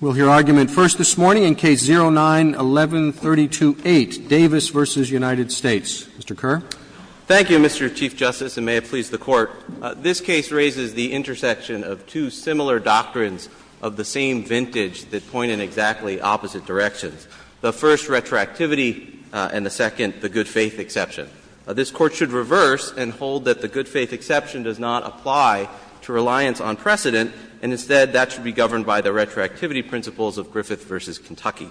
We'll hear argument first this morning in Case 09-1132-8, Davis v. United States. Mr. Kerr. Thank you, Mr. Chief Justice, and may it please the Court. This case raises the intersection of two similar doctrines of the same vintage that point in exactly opposite directions, the first, retroactivity, and the second, the good-faith exception. This Court should reverse and hold that the good-faith exception does not apply to reliance on precedent, and instead, that should be governed by the retroactivity principles of Griffith v. Kentucky.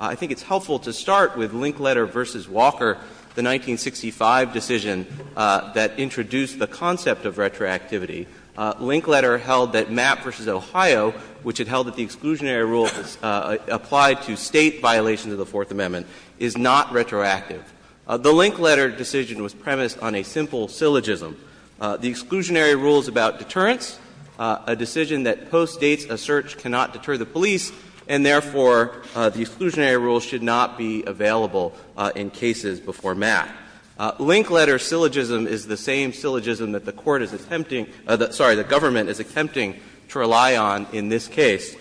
I think it's helpful to start with Linkletter v. Walker, the 1965 decision that introduced the concept of retroactivity. Linkletter held that Mapp v. Ohio, which it held that the exclusionary rule applied to State violations of the Fourth Amendment, is not retroactive. The Linkletter decision was premised on a simple syllogism. The exclusionary rule is about deterrence, a decision that postdates a search cannot deter the police, and therefore, the exclusionary rule should not be available in cases before Mapp. Linkletter syllogism is the same syllogism that the Court is attempting to rely on in this case.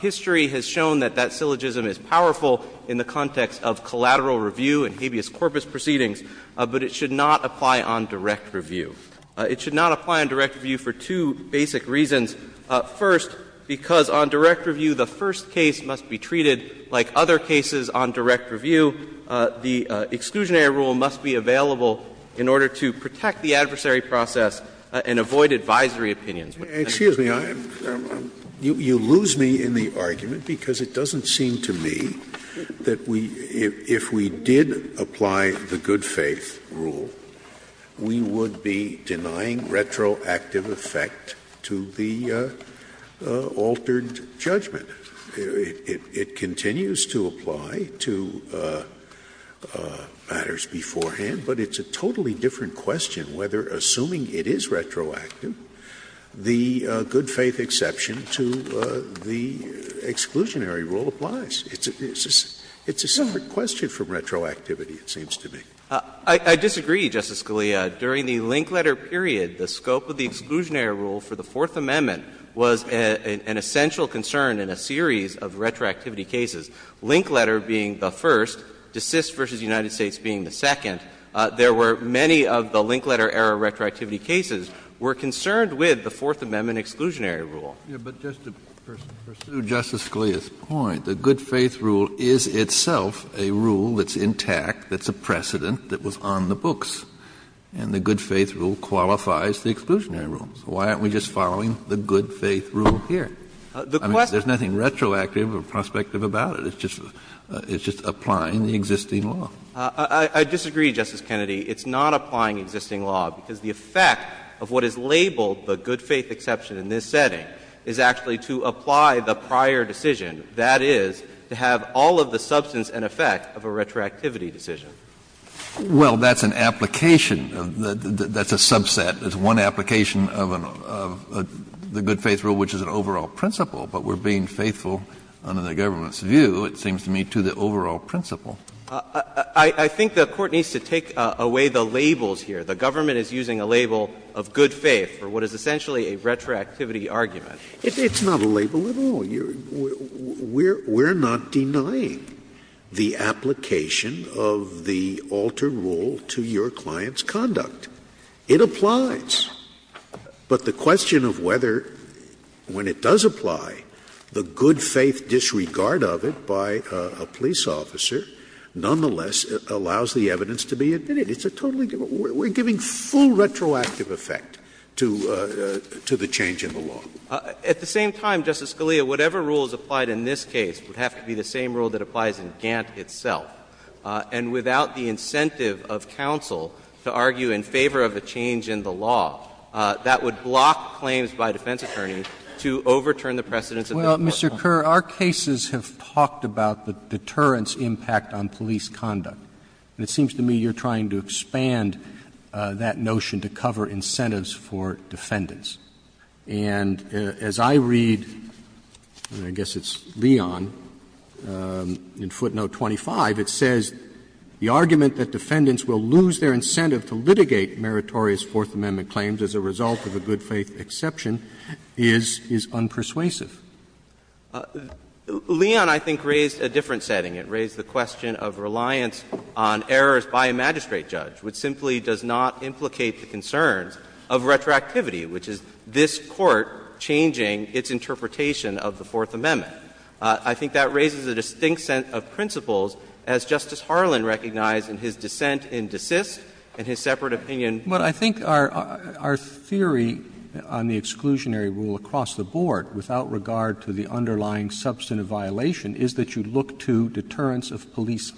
History has shown that that syllogism is powerful in the context of collateral review and habeas corpus proceedings, but it should not apply on direct review. It should not apply on direct review for two basic reasons. First, because on direct review, the first case must be treated like other cases on direct review. The exclusionary rule must be available in order to protect the adversary process and avoid advisory opinions. Scalia. Excuse me. You lose me in the argument, because it doesn't seem to me that we, if we did apply the good-faith rule, we would be denying retroactive effect to the altered judgment. It continues to apply to matters beforehand, but it's a totally different question whether, assuming it is retroactive, the good-faith exception to the exclusionary rule applies. It's a separate question from retroactivity, it seems to me. I disagree, Justice Scalia. During the Linkletter period, the scope of the exclusionary rule for the Fourth Amendment was an essential concern in a series of retroactivity cases, Linkletter being the first, DeSist v. United States being the second. There were many of the Linkletter-era retroactivity cases were concerned with the Fourth Amendment exclusionary rule. Kennedy, but just to pursue Justice Scalia's point, the good-faith rule is itself a rule that's intact, that's a precedent that was on the books, and the good-faith rule qualifies the exclusionary rule. So why aren't we just following the good-faith rule here? I mean, there's nothing retroactive or prospective about it. It's just applying the existing law. I disagree, Justice Kennedy. It's not applying existing law, because the effect of what is labeled the good-faith exception in this setting is actually to apply the prior decision, that is, to have all of the substance and effect of a retroactivity decision. Well, that's an application of the — that's a subset. It's one application of the good-faith rule, which is an overall principle. But we're being faithful, under the government's view, it seems to me, to the overall principle. I think the Court needs to take away the labels here. The government is using a label of good faith for what is essentially a retroactivity argument. It's not a label at all. We're not denying the application of the alter rule to your client's conduct. It applies. But the question of whether, when it does apply, the good-faith disregard of it by a police officer, nonetheless, allows the evidence to be admitted. It's a totally different — we're giving full retroactive effect to the change in the law. At the same time, Justice Scalia, whatever rule is applied in this case would have to be the same rule that applies in Gantt itself. And without the incentive of counsel to argue in favor of a change in the law, that would block claims by a defense attorney to overturn the precedents of the court. Roberts. Well, Mr. Kerr, our cases have talked about the deterrence impact on police conduct. It seems to me you're trying to expand that notion to cover incentives for defendants. And as I read, I guess it's Leon, in footnote 25, it says, The argument that defendants will lose their incentive to litigate meritorious Fourth Amendment claims as a result of a good-faith exception is unpersuasive. Leon, I think, raised a different setting. It raised the question of reliance on errors by a magistrate judge, which simply does not implicate the concerns of retroactivity, which is this Court changing its interpretation of the Fourth Amendment. I think that raises a distinct set of principles, as Justice Harlan recognized in his dissent in DeSist and his separate opinion. But I think our theory on the exclusionary rule across the board, without regard to the underlying substantive violation, is that you look to deterrence of police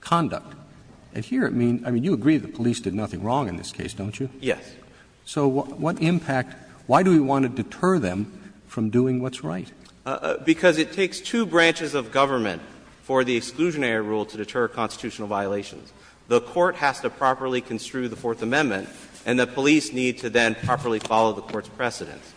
conduct. And here, I mean, you agree the police did nothing wrong in this case, don't you? Yes. So what impact — why do we want to deter them from doing what's right? Because it takes two branches of government for the exclusionary rule to deter constitutional violations. The Court has to properly construe the Fourth Amendment, and the police need to then properly follow the Court's precedents.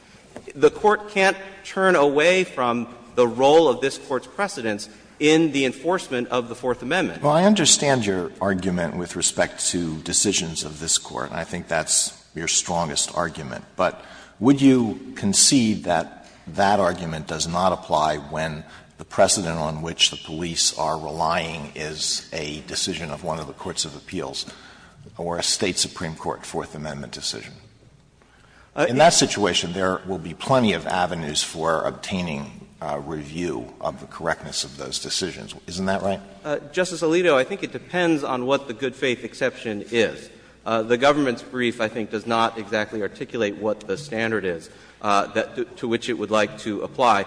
The Court can't turn away from the role of this Court's precedents in the enforcement of the Fourth Amendment. Well, I understand your argument with respect to decisions of this Court, and I think that's your strongest argument. But would you concede that that argument does not apply when the precedent on which the police are relying is a decision of one of the courts of appeals or a State Supreme Court Fourth Amendment decision? In that situation, there will be plenty of avenues for obtaining review of the correctness of those decisions. Isn't that right? Justice Alito, I think it depends on what the good faith exception is. The government's brief, I think, does not exactly articulate what the standard is to which it would like to apply.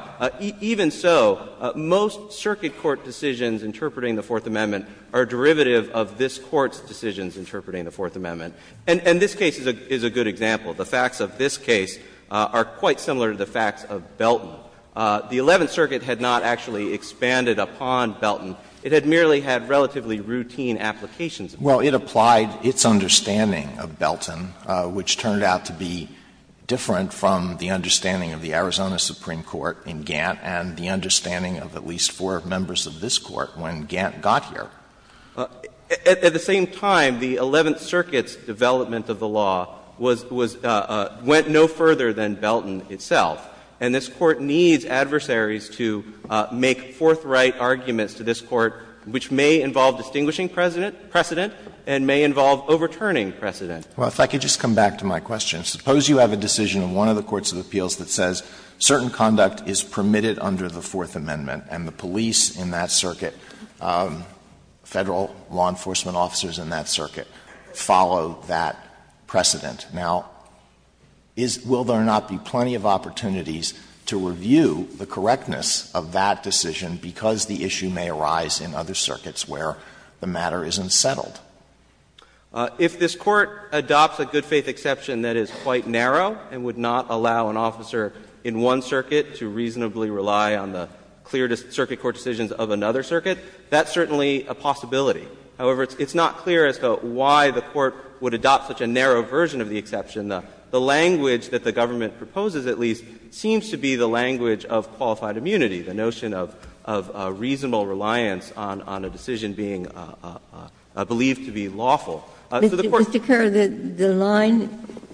Even so, most circuit court decisions interpreting the Fourth Amendment are derivative of this Court's decisions interpreting the Fourth Amendment. And this case is a good example. The facts of this case are quite similar to the facts of Belton. The Eleventh Circuit had not actually expanded upon Belton. It had merely had relatively routine applications. Well, it applied its understanding of Belton, which turned out to be different from the understanding of the Arizona Supreme Court in Gantt and the understanding of at least four members of this Court when Gantt got here. At the same time, the Eleventh Circuit's development of the law was — went no further than Belton itself. And this Court needs adversaries to make forthright arguments to this Court which may involve distinguishing precedent and may involve overturning precedent. Alitoso, if I could just come back to my question. Suppose you have a decision in one of the courts of appeals that says certain conduct is permitted under the Fourth Amendment and the police in that circuit, Federal law enforcement officers in that circuit, follow that precedent. Now, is — will there not be plenty of opportunities to review the correctness of that decision because the issue may arise in other circuits where the matter isn't settled? If this Court adopts a good-faith exception that is quite narrow and would not allow an officer in one circuit to reasonably rely on the clear circuit court decisions of another circuit, that's certainly a possibility. However, it's not clear as to why the Court would adopt such a narrow version of the The language that the government proposes, at least, seems to be the language of qualified immunity, the notion of reasonable reliance on a decision being a — a belief to be lawful. So the Court's — Ginsburg, Mr. Kerr, the line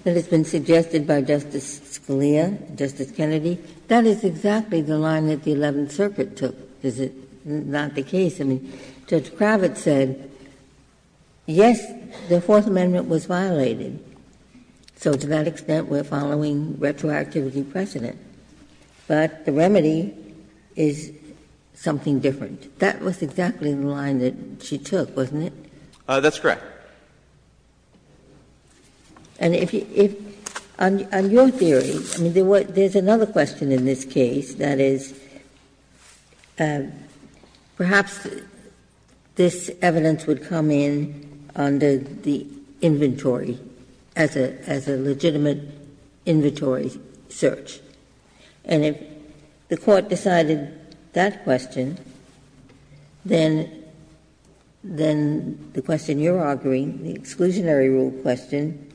that has been suggested by Justice Scalia, Justice Kennedy, that is exactly the line that the Eleventh Circuit took. Is it not the case? I mean, Judge Kravitz said, yes, the Fourth Amendment was violated, so to that extent we're following retroactivity precedent, but the remedy is something different. That was exactly the line that she took, wasn't it? That's correct. Ginsburg, and if you — on your theory, I mean, there's another question in this case, that is, perhaps this evidence would come in under the inventory, as a legitimate inventory search, and if the Court decided that question, then — then the question you're arguing, the exclusionary rule question,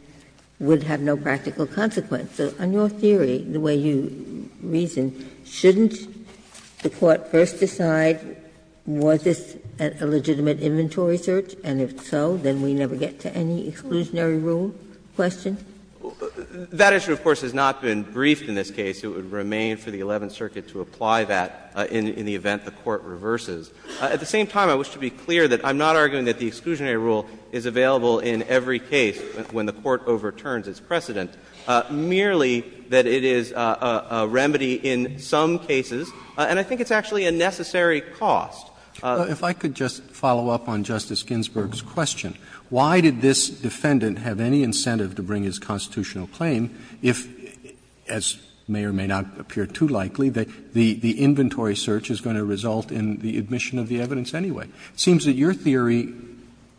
would have no practical consequence. So on your theory, the way you reason, shouldn't the Court first decide, was this a legitimate inventory search, and if so, then we never get to any exclusionary rule question? That issue, of course, has not been briefed in this case. It would remain for the Eleventh Circuit to apply that in the event the Court reverses. At the same time, I wish to be clear that I'm not arguing that the exclusionary rule is available in every case when the Court overturns its precedent, merely that it is a remedy in some cases, and I think it's actually a necessary cost. Roberts. If I could just follow up on Justice Ginsburg's question, why did this defendant have any incentive to bring his constitutional claim if, as may or may not appear too likely, the inventory search is going to result in the admission of the evidence anyway? It seems that your theory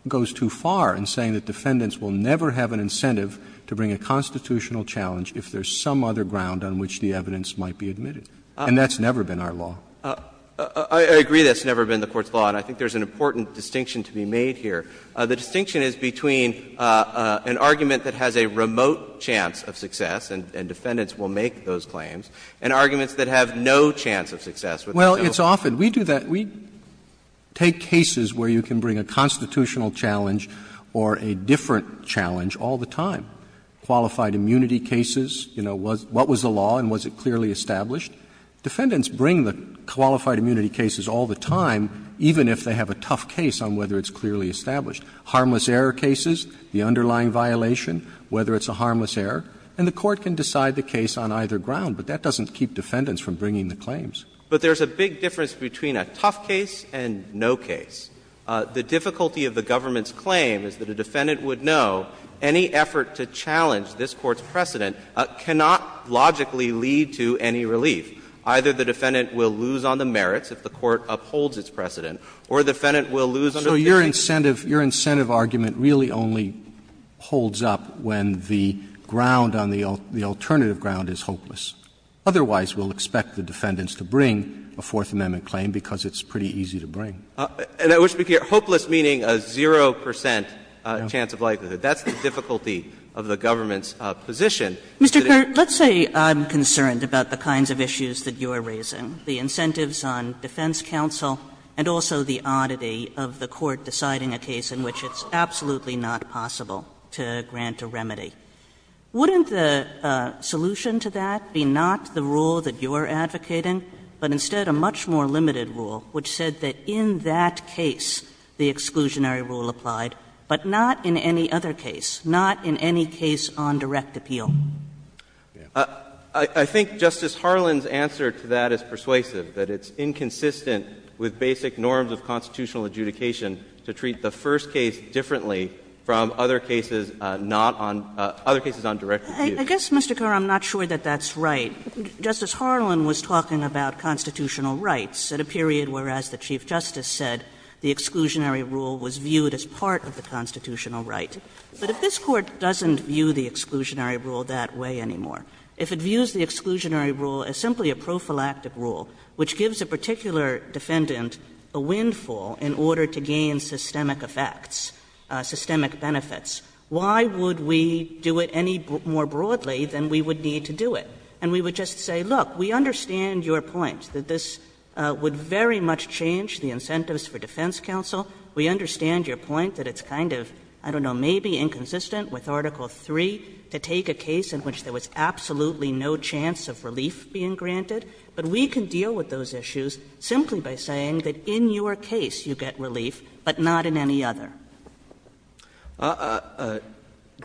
goes too far in saying that defendants will never have an incentive to bring a constitutional challenge if there's some other ground on which the evidence might be admitted, and that's never been our law. I agree that it's never been the Court's law, and I think there's an important distinction to be made here. The distinction is between an argument that has a remote chance of success, and defendants will make those claims, and arguments that have no chance of success. Roberts. Well, it's often. We do that. We take cases where you can bring a constitutional challenge or a different challenge all the time. Qualified immunity cases, you know, what was the law and was it clearly established? Defendants bring the qualified immunity cases all the time, even if they have a tough case on whether it's clearly established. Harmless error cases, the underlying violation, whether it's a harmless error, and the Court can decide the case on either ground, but that doesn't keep defendants from bringing the claims. But there's a big difference between a tough case and no case. The difficulty of the government's claim is that a defendant would know any effort to challenge this Court's precedent cannot logically lead to any relief. Either the defendant will lose on the merits if the Court upholds its precedent, or the defendant will lose on the merits. Roberts So your incentive argument really only holds up when the ground on the alternative ground is hopeless. Otherwise, we'll expect the defendants to bring a Fourth Amendment claim because it's pretty easy to bring. And I wish to be clear, hopeless meaning a 0 percent chance of likelihood. That's the difficulty of the government's position. Mr. Kearns, let's say I'm concerned about the kinds of issues that you are raising, the incentives on defense counsel, and also the oddity of the Court deciding a case in which it's absolutely not possible to grant a remedy. Wouldn't the solution to that be not the rule that you're advocating, but instead a much more limited rule which said that in that case the exclusionary rule applied, but not in any other case, not in any case on direct appeal? I think Justice Harlan's answer to that is persuasive, that it's inconsistent with basic norms of constitutional adjudication to treat the first case differently from other cases not on — other cases on direct appeal. I guess, Mr. Kerr, I'm not sure that that's right. Justice Harlan was talking about constitutional rights at a period where, as the Chief Justice said, the exclusionary rule was viewed as part of the constitutional right. But if this Court doesn't view the exclusionary rule that way anymore, if it views the exclusionary rule as simply a prophylactic rule which gives a particular defendant a windfall in order to gain systemic effects, systemic benefits, why would we do it any more broadly than we would need to do it? And we would just say, look, we understand your point that this would very much change the incentives for defense counsel. We understand your point that it's kind of, I don't know, maybe inconsistent with Article III to take a case in which there was absolutely no chance of relief being granted. But we can deal with those issues simply by saying that in your case you get relief, but not in any other. Kerr,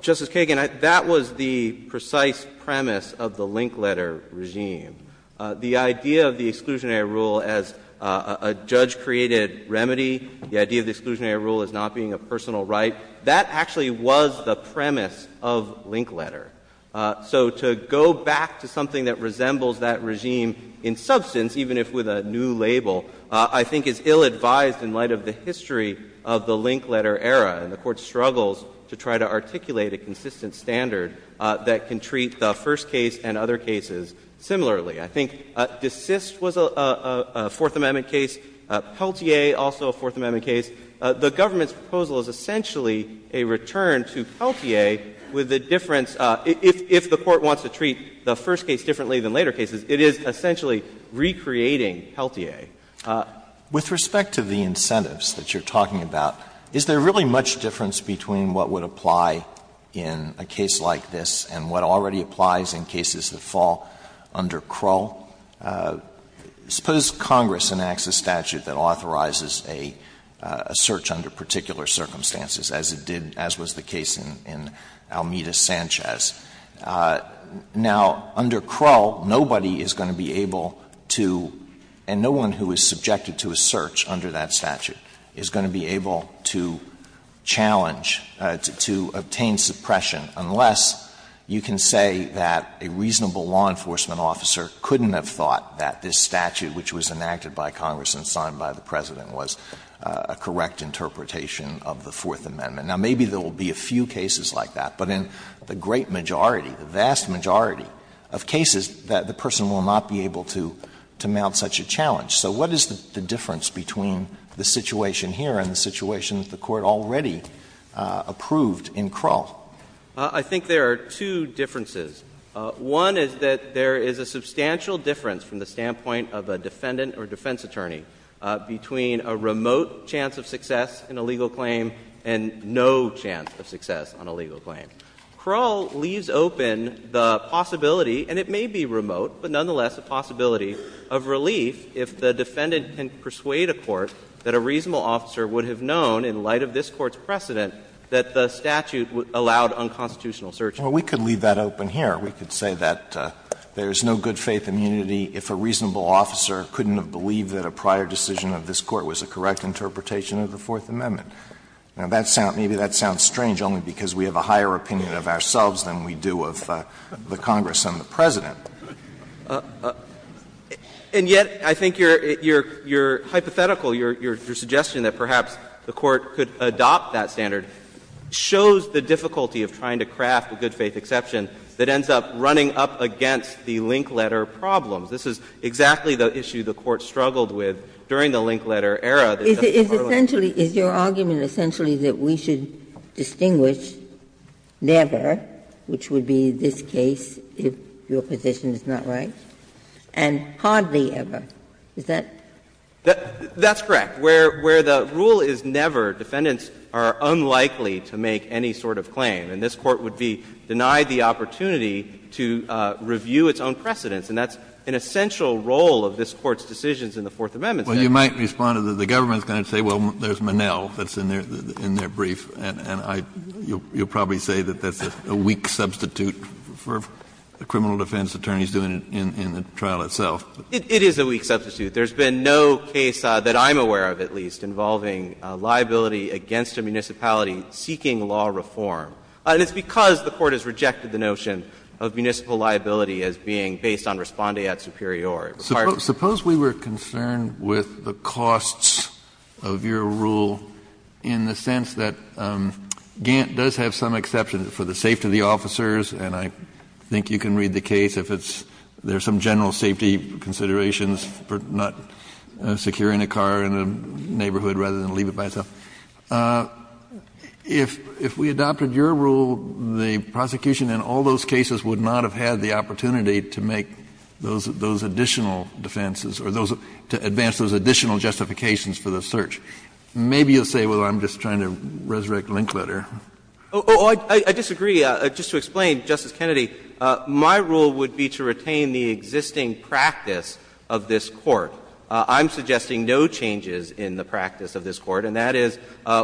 Justice Kagan, that was the precise premise of the link letter regime. The idea of the exclusionary rule as a judge-created remedy, the idea of the exclusionary rule as not being a personal right, that actually was the premise of link letter. So to go back to something that resembles that regime in substance, even if with a new label, I think is ill-advised in light of the history of the link letter era. And the Court struggles to try to articulate a consistent standard that can treat the first case and other cases similarly. I think DeSist was a Fourth Amendment case. Peltier, also a Fourth Amendment case. The government's proposal is essentially a return to Peltier with the difference of if the Court wants to treat the first case differently than later cases, it is essentially recreating Peltier. Alito, with respect to the incentives that you're talking about, is there really much difference between what would apply in a case like this and what already applies in cases that fall under Krull? Suppose Congress enacts a statute that authorizes a search under particular circumstances, as it did, as was the case in Almeida-Sanchez. Now, under Krull, nobody is going to be able to, and no one who is subjected to a search under that statute is going to be able to challenge, to obtain suppression, unless you can say that a reasonable law enforcement officer couldn't have thought that this statute, which was enacted by Congress and signed by the President, was a correct interpretation of the Fourth Amendment. Now, maybe there will be a few cases like that, but in the great majority, the vast majority of cases, that the person will not be able to mount such a challenge. So what is the difference between the situation here and the situation that the Court already approved in Krull? I think there are two differences. One is that there is a substantial difference from the standpoint of a defendant or defense attorney between a remote chance of success in a legal claim and no chance of success on a legal claim. Krull leaves open the possibility, and it may be remote, but nonetheless a possibility of relief if the defendant can persuade a court that a reasonable officer would have known, in light of this Court's precedent, that the statute allowed unconstitutional search. Alito, we could leave that open here. We could say that there is no good-faith immunity if a reasonable officer couldn't have believed that a prior decision of this Court was a correct interpretation of the Fourth Amendment. Now, that sounds — maybe that sounds strange only because we have a higher opinion of ourselves than we do of the Congress and the President. And yet, I think your hypothetical, your suggestion that perhaps the Court could adopt that standard shows the difficulty of trying to craft a good-faith exception that ends up running up against the link letter problems. This is exactly the issue the Court struggled with during the link letter era. Ginsburg. Is essentially — is your argument essentially that we should distinguish never, which would be this case if your position is not right, and hardly ever? Is that? That's correct. Where the rule is never, defendants are unlikely to make any sort of claim. And this Court would be denied the opportunity to review its own precedents, and that's an essential role of this Court's decisions in the Fourth Amendment statute. Well, you might respond to the — the government's going to say, well, there's Monell that's in their — in their brief, and I — you'll probably say that that's a weak substitute for the criminal defense attorneys doing it in the trial itself. It is a weak substitute. There's been no case that I'm aware of, at least, involving liability against a municipality seeking law reform. And it's because the Court has rejected the notion of municipal liability as being based on respondeat superior. Suppose we were concerned with the costs of your rule in the sense that Gant does have some exceptions for the safety of the officers, and I think you can read the case if it's — there's some general safety considerations for not securing a car in a neighborhood rather than leave it by itself. If — if we adopted your rule, the prosecution in all those cases would not have had the opportunity to make those — those additional defenses or those — to advance those additional justifications for the search. Maybe you'll say, well, I'm just trying to resurrect Linkletter. Oh, I disagree. Just to explain, Justice Kennedy, my rule would be to retain the existing practice of this Court. I'm suggesting no changes in the practice of this Court, and that is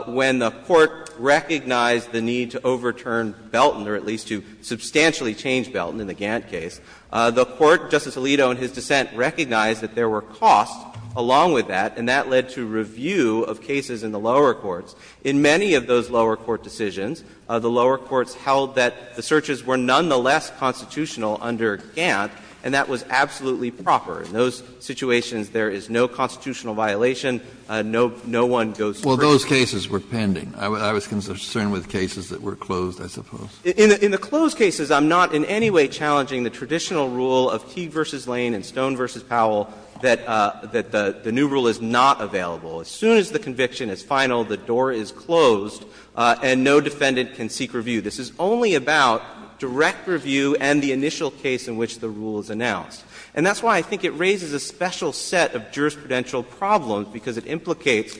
when the Court recognized the need to overturn Belton, or at least to substantially change Belton in the Gant case, the Court, Justice Alito in his dissent, recognized that there were costs along with that, and that led to review of cases in the lower courts. In many of those lower court decisions, the lower courts held that the searches were nonetheless constitutional under Gant, and that was absolutely proper. In those situations, there is no constitutional violation. No — no one goes first. Kennedy, those cases were pending. I was concerned with cases that were closed, I suppose. In the closed cases, I'm not in any way challenging the traditional rule of Keague v. Lane and Stone v. Powell that the new rule is not available. As soon as the conviction is final, the door is closed, and no defendant can seek review. This is only about direct review and the initial case in which the rule is announced. And that's why I think it raises a special set of jurisprudential problems, because it implicates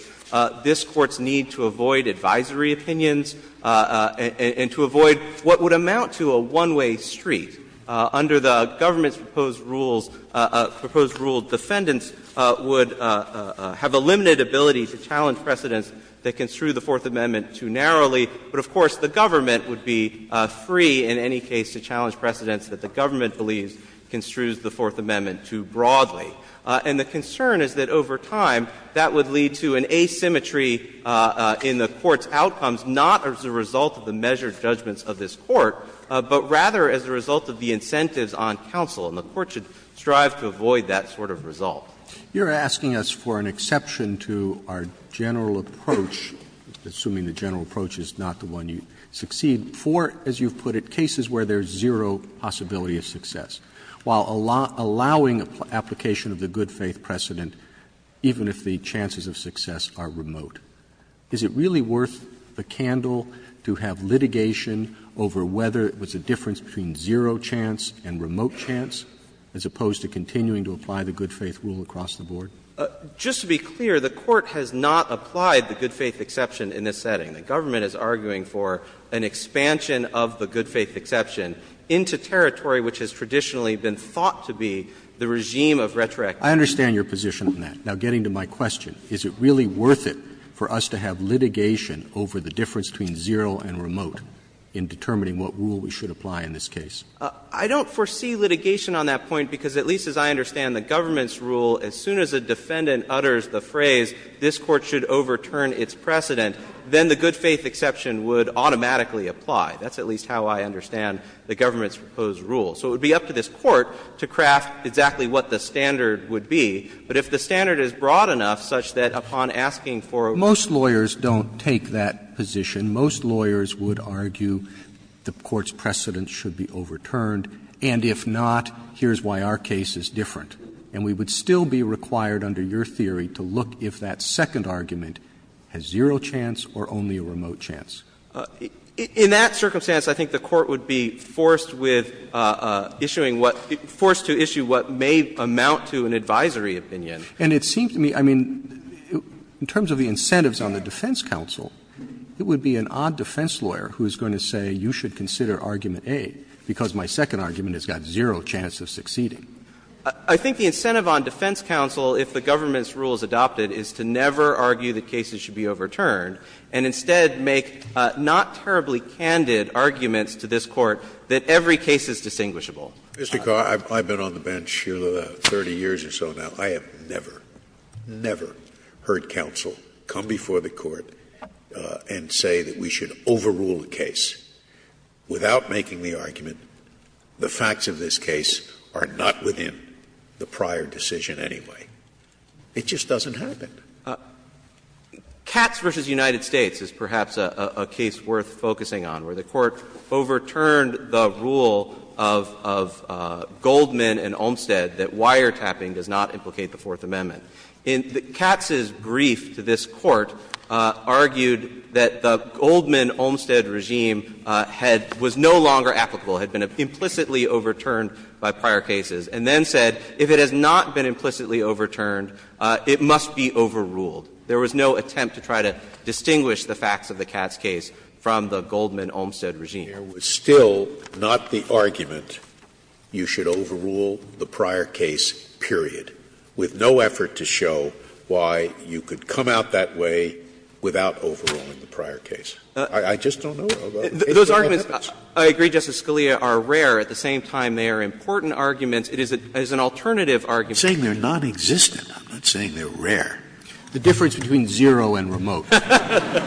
this Court's need to avoid advisory opinions and to avoid what would amount to a one-way street. Under the government's proposed rules, proposed rule, defendants would have a limited ability to challenge precedents that construe the Fourth Amendment too narrowly. But, of course, the government would be free in any case to challenge precedents that the government believes construes the Fourth Amendment too broadly. And the concern is that over time, that would lead to an asymmetry in the Court's outcomes, not as a result of the measured judgments of this Court, but rather as a result of the incentives on counsel, and the Court should strive to avoid that sort of result. Roberts, you're asking us for an exception to our general approach, assuming the general approach is not the one you succeed, for, as you've put it, cases where there's zero possibility of success. While allowing application of the good-faith precedent, even if the chances of success are remote. Is it really worth the candle to have litigation over whether it was a difference between zero chance and remote chance, as opposed to continuing to apply the good-faith rule across the board? Just to be clear, the Court has not applied the good-faith exception in this setting. The government is arguing for an expansion of the good-faith exception into territory which has traditionally been thought to be the regime of retroactivity. Roberts, I understand your position on that. Now, getting to my question, is it really worth it for us to have litigation over the difference between zero and remote in determining what rule we should apply in this case? I don't foresee litigation on that point, because at least as I understand the government's rule, as soon as a defendant utters the phrase, this Court should overturn its precedent, then the good-faith exception would automatically apply. That's at least how I understand the government's proposed rule. So it would be up to this Court to craft exactly what the standard would be. But if the standard is broad enough such that upon asking for a remote chance to apply it, then the Court would have to overturn its precedent. I don't foresee litigation on that point. I don't foresee litigation on that point. And if not, here's why our case is different. And we would still be required under your theory to look if that second argument has zero chance or only a remote chance. In that circumstance, I think the Court would be forced with issuing what – forced to issue what may amount to an advisory opinion. Roberts And it seems to me, I mean, in terms of the incentives on the defense counsel, it would be an odd defense lawyer who is going to say you should consider argument A, because my second argument has got zero chance of succeeding. I think the incentive on defense counsel, if the government's rule is adopted, is to never argue that cases should be overturned, and instead make not terribly candid arguments to this Court that every case is distinguishable. Scalia Mr. Carr, I've been on the bench, you know, 30 years or so now. I have never, never heard counsel come before the Court and say that we should overrule a case without making the argument the facts of this case are not within the prior decision anyway. It just doesn't happen. Carr, Katz v. United States is perhaps a case worth focusing on, where the Court overturned the rule of Goldman and Olmstead that wiretapping does not implicate the Fourth Amendment. Katz's brief to this Court argued that the Goldman-Olmstead regime had – was no longer applicable, had been implicitly overturned by prior cases, and then said if it has not been implicitly overturned, it must be overruled. There was no attempt to try to distinguish the facts of the Katz case from the Goldman-Olmstead regime. Scalia There was still not the argument you should overrule the prior case, period, with no effort to show why you could come out that way without overruling the prior case. I just don't know about the case that never happens. Carr, Those arguments, I agree, Justice Scalia, are rare. At the same time, they are important arguments. It is an alternative argument. Scalia I'm not saying they're non-existent. I'm not saying they're rare. The difference between zero and remote. Carr,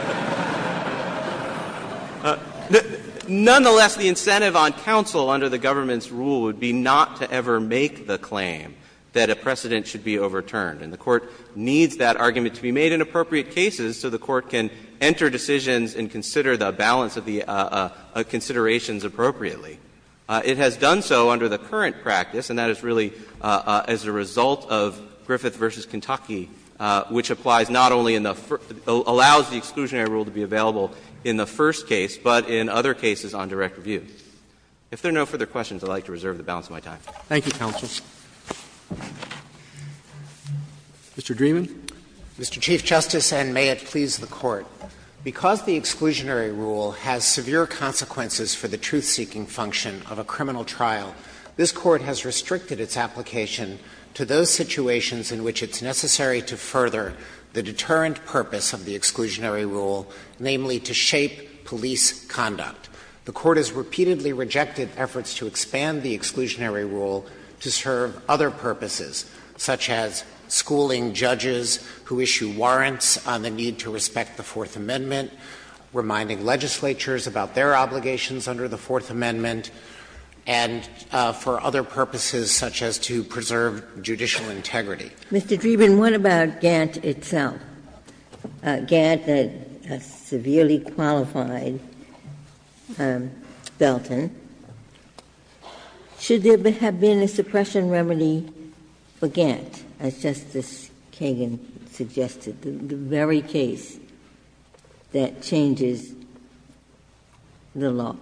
Nonetheless, the incentive on counsel under the government's rule would be not to ever make the claim that a precedent should be overturned. And the Court needs that argument to be made in appropriate cases so the Court can enter decisions and consider the balance of the considerations appropriately. It has done so under the current practice, and that is really as a result of Griffith v. Kentucky, which applies not only in the first — allows the exclusionary rule to be available in the first case, but in other cases on direct review. If there are no further questions, I would like to reserve the balance of my time. Roberts Thank you, counsel. Mr. Dreeben. Dreeben Your Honor, because the exclusionary rule has severe consequences for the truth-seeking function of a criminal trial, this Court has restricted its application to those situations in which it's necessary to further the deterrent purpose of the exclusionary rule, namely to shape police conduct. The Court has repeatedly rejected efforts to expand the exclusionary rule to serve other purposes, such as schooling judges who issue warrants on the need to respect the Fourth Amendment, reminding legislatures about their obligations under the Fourth Amendment, and for other purposes such as to preserve judicial integrity. Ginsburg Mr. Dreeben, what about Gantt itself? Gantt, a severely qualified Belton. Should there have been a suppression remedy for Gantt, as Justice Kagan suggested? The very case that changes the law.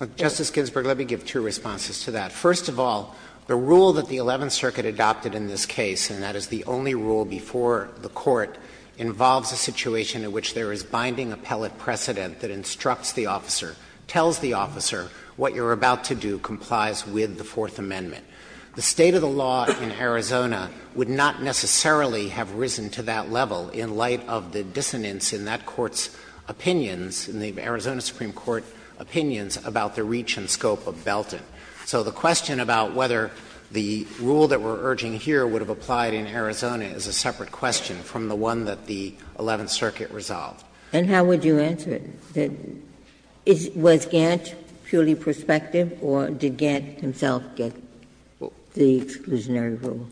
Dreeben Justice Ginsburg, let me give two responses to that. First of all, the rule that the Eleventh Circuit adopted in this case, and that is the only rule before the Court, involves a situation in which there is binding appellate precedent that instructs the officer, tells the officer, what you're about to do complies with the Fourth Amendment. The state of the law in Arizona would not necessarily have risen to that level in light of the dissonance in that Court's opinions, in the Arizona Supreme Court opinions, about the reach and scope of Belton. So the question about whether the rule that we're urging here would have applied in Arizona is a separate question from the one that the Eleventh Circuit resolved. Ginsburg And how would you answer it? Was Gantt purely prospective, or did Gantt himself get the exclusionary rule?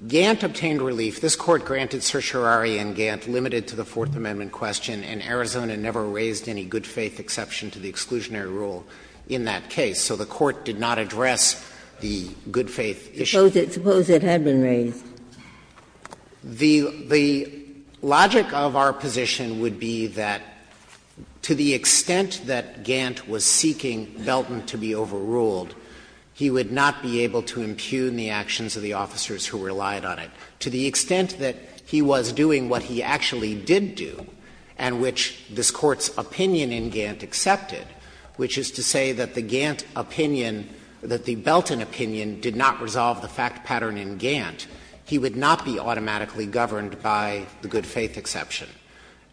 Dreeben Gantt obtained relief. This Court granted certiorari in Gantt limited to the Fourth Amendment question, and Arizona never raised any good-faith exception to the exclusionary rule in that case. So the Court did not address the good-faith issue. Ginsburg Suppose it had been raised. Dreeben The logic of our position would be that to the extent that Gantt was seeking Belton to be overruled, he would not be able to impugn the actions of the officers who relied on it. To the extent that he was doing what he actually did do, and which this Court's opinion in Gantt accepted, which is to say that the Gantt opinion, that the Belton opinion did not resolve the fact pattern in Gantt, he would not be automatically governed by the good-faith exception.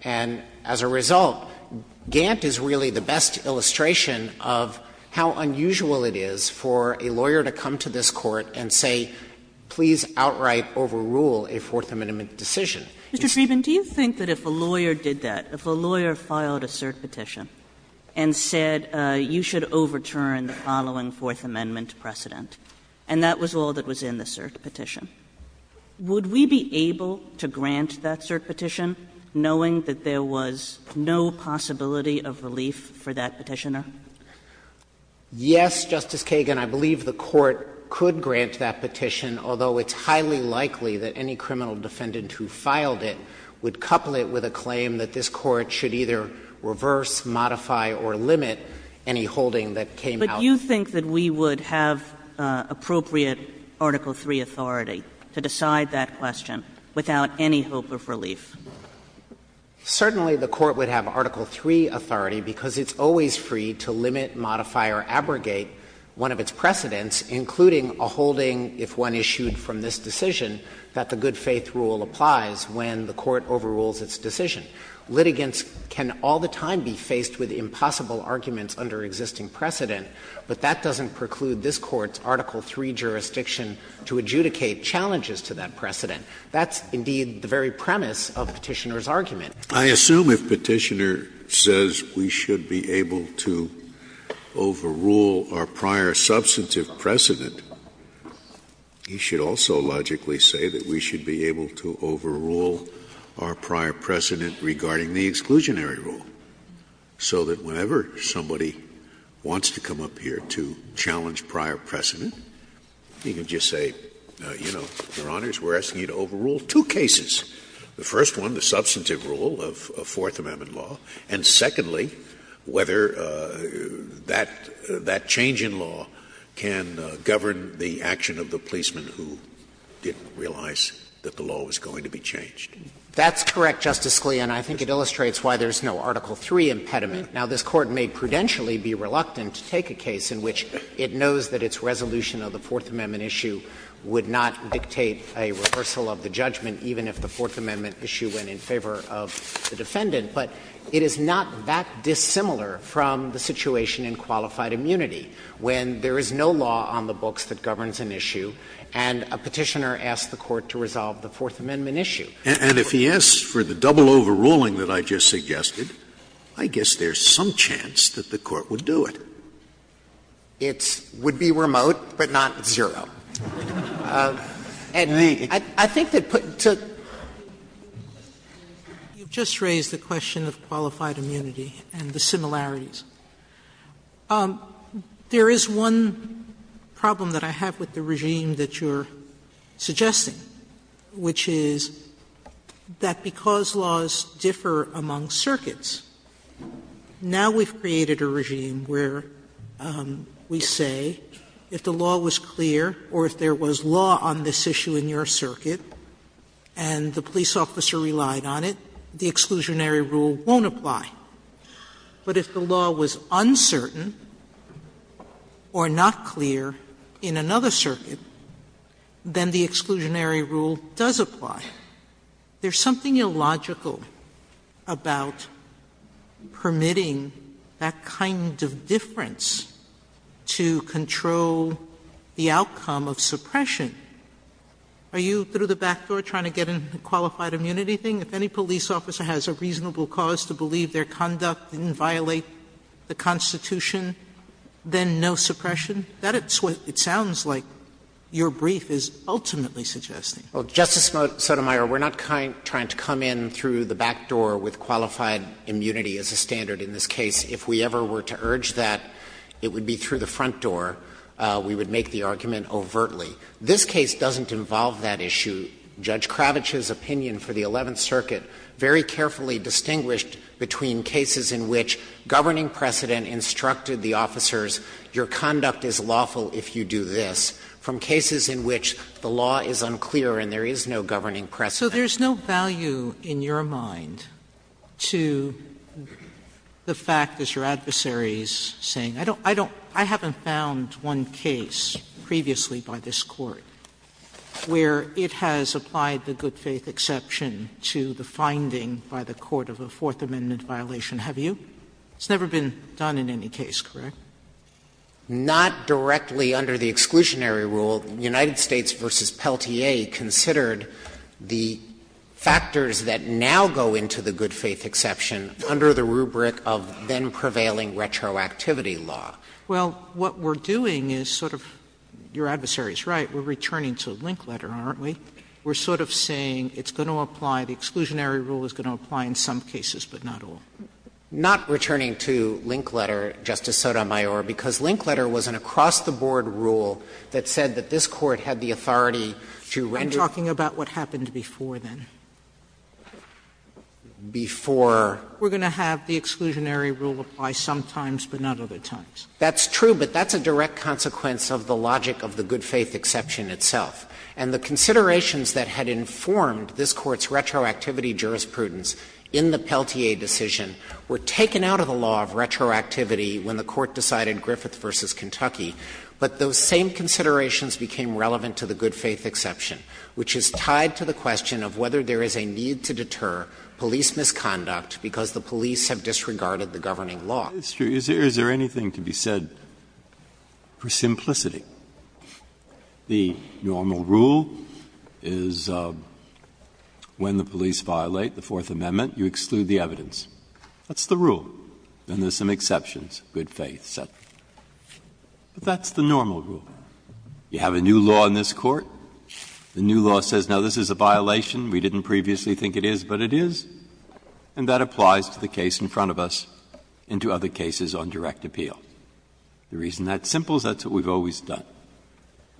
And as a result, Gantt is really the best illustration of how unusual it is for a lawyer to come to this Court and say, please outright overrule a Fourth Amendment decision. Kagan Mr. Dreeben, do you think that if a lawyer did that, if a lawyer filed a cert petition and said, you should overturn the following Fourth Amendment precedent, and that was all that was in the cert petition, would we be able to grant that cert petition knowing that there was no possibility of relief for that petitioner? Dreeben Yes, Justice Kagan. I believe the Court could grant that petition, although it's highly likely that any criminal defendant who filed it would couple it with a claim that this Court should either reverse, modify, or limit any holding that came out of it. Kagan But you think that we would have appropriate Article III authority to decide that question without any hope of relief? Dreeben Certainly, the Court would have Article III authority because it's always free to limit, modify, or abrogate one of its precedents, including a holding, if one issued from this decision, that the good-faith rule applies when the Court overrules its decision. Litigants can all the time be faced with impossible arguments under existing precedent, but that doesn't preclude this Court's Article III jurisdiction to adjudicate challenges to that precedent. That's, indeed, the very premise of Petitioner's argument. Scalia I assume if Petitioner says we should be able to overrule our prior substantive precedent, he should also logically say that we should be able to overrule our prior precedent regarding the exclusionary rule, so that whenever somebody wants to come up here to challenge prior precedent, he can just say, you know, Your Honors, we're asking you to overrule two cases, the first one, the substantive rule of Fourth Amendment law, and secondly, whether that change in law can govern the action of the policeman who didn't realize that the law was going to be changed. Dreeben That's correct, Justice Scalia, and I think it illustrates why there's no Article III impediment. Now, this Court may prudentially be reluctant to take a case in which it knows that its resolution of the Fourth Amendment issue would not dictate a reversal of the judgment, even if the Fourth Amendment issue went in favor of the defendant, but it is not that dissimilar from the situation in qualified immunity, when there is no law on the books that governs an issue and a Petitioner asks the Court to resolve the Fourth Amendment issue. Scalia And if he asks for the double overruling that I just suggested, I guess there's some chance that the Court would do it. Dreeben It would be remote, but not zero. And I think that putting to the point that you've just raised, the question of qualified immunity and the similarities, there is one problem that I have with the regime that you're suggesting, which is that because laws differ among circuits, now we've created a regime where we say if the law was clear or if there was law on this issue in your circuit and the police officer relied on it, the exclusionary rule won't apply. But if the law was uncertain or not clear in another circuit, then the exclusionary rule does apply. There's something illogical about permitting that kind of difference to control the outcome of suppression. Are you, through the back door, trying to get into the qualified immunity thing? If any police officer has a reasonable cause to believe their conduct didn't violate the Constitution, then no suppression? That's what it sounds like your brief is ultimately suggesting. Dreeben Well, Justice Sotomayor, we're not trying to come in through the back door with qualified immunity as a standard in this case. If we ever were to urge that, it would be through the front door. We would make the argument overtly. This case doesn't involve that issue. Judge Kravitch's opinion for the Eleventh Circuit very carefully distinguished between cases in which governing precedent instructed the officers, your conduct is lawful if you do this, from cases in which the law is unclear and there is no governing precedent. Sotomayor So there's no value in your mind to the fact, as your adversary is saying, I don't I haven't found one case previously by this Court where it has applied the good faith exception to the finding by the court of a Fourth Amendment violation, have you? It's never been done in any case, correct? Dreeben Not directly under the exclusionary rule. United States v. Peltier considered the factors that now go into the good faith exception under the rubric of then-prevailing retroactivity law. Sotomayor Well, what we're doing is sort of, your adversary is right, we're returning to Linkletter, aren't we? We're sort of saying it's going to apply, the exclusionary rule is going to apply in some cases, but not all. Dreeben Not returning to Linkletter, Justice Sotomayor, because Linkletter was an across-the-board rule that said that this Court had the authority to render. Sotomayor I'm talking about what happened before then. Before. Sotomayor We're going to have the exclusionary rule apply sometimes, but not other times. Dreeben That's true, but that's a direct consequence of the logic of the good faith exception itself. And the considerations that had informed this Court's retroactivity jurisprudence in the Peltier decision were taken out of the law of retroactivity when the Court decided Griffith v. Kentucky, but those same considerations became relevant to the there is a need to deter police misconduct because the police have disregarded the governing law. Breyer Is there anything to be said for simplicity? The normal rule is when the police violate the Fourth Amendment, you exclude the evidence. That's the rule, and there's some exceptions, good faith, et cetera. But that's the normal rule. You have a new law in this Court, the new law says now this is a violation, we didn't previously think it is, but it is, and that applies to the case in front of us and to other cases on direct appeal. The reason that's simple is that's what we've always done.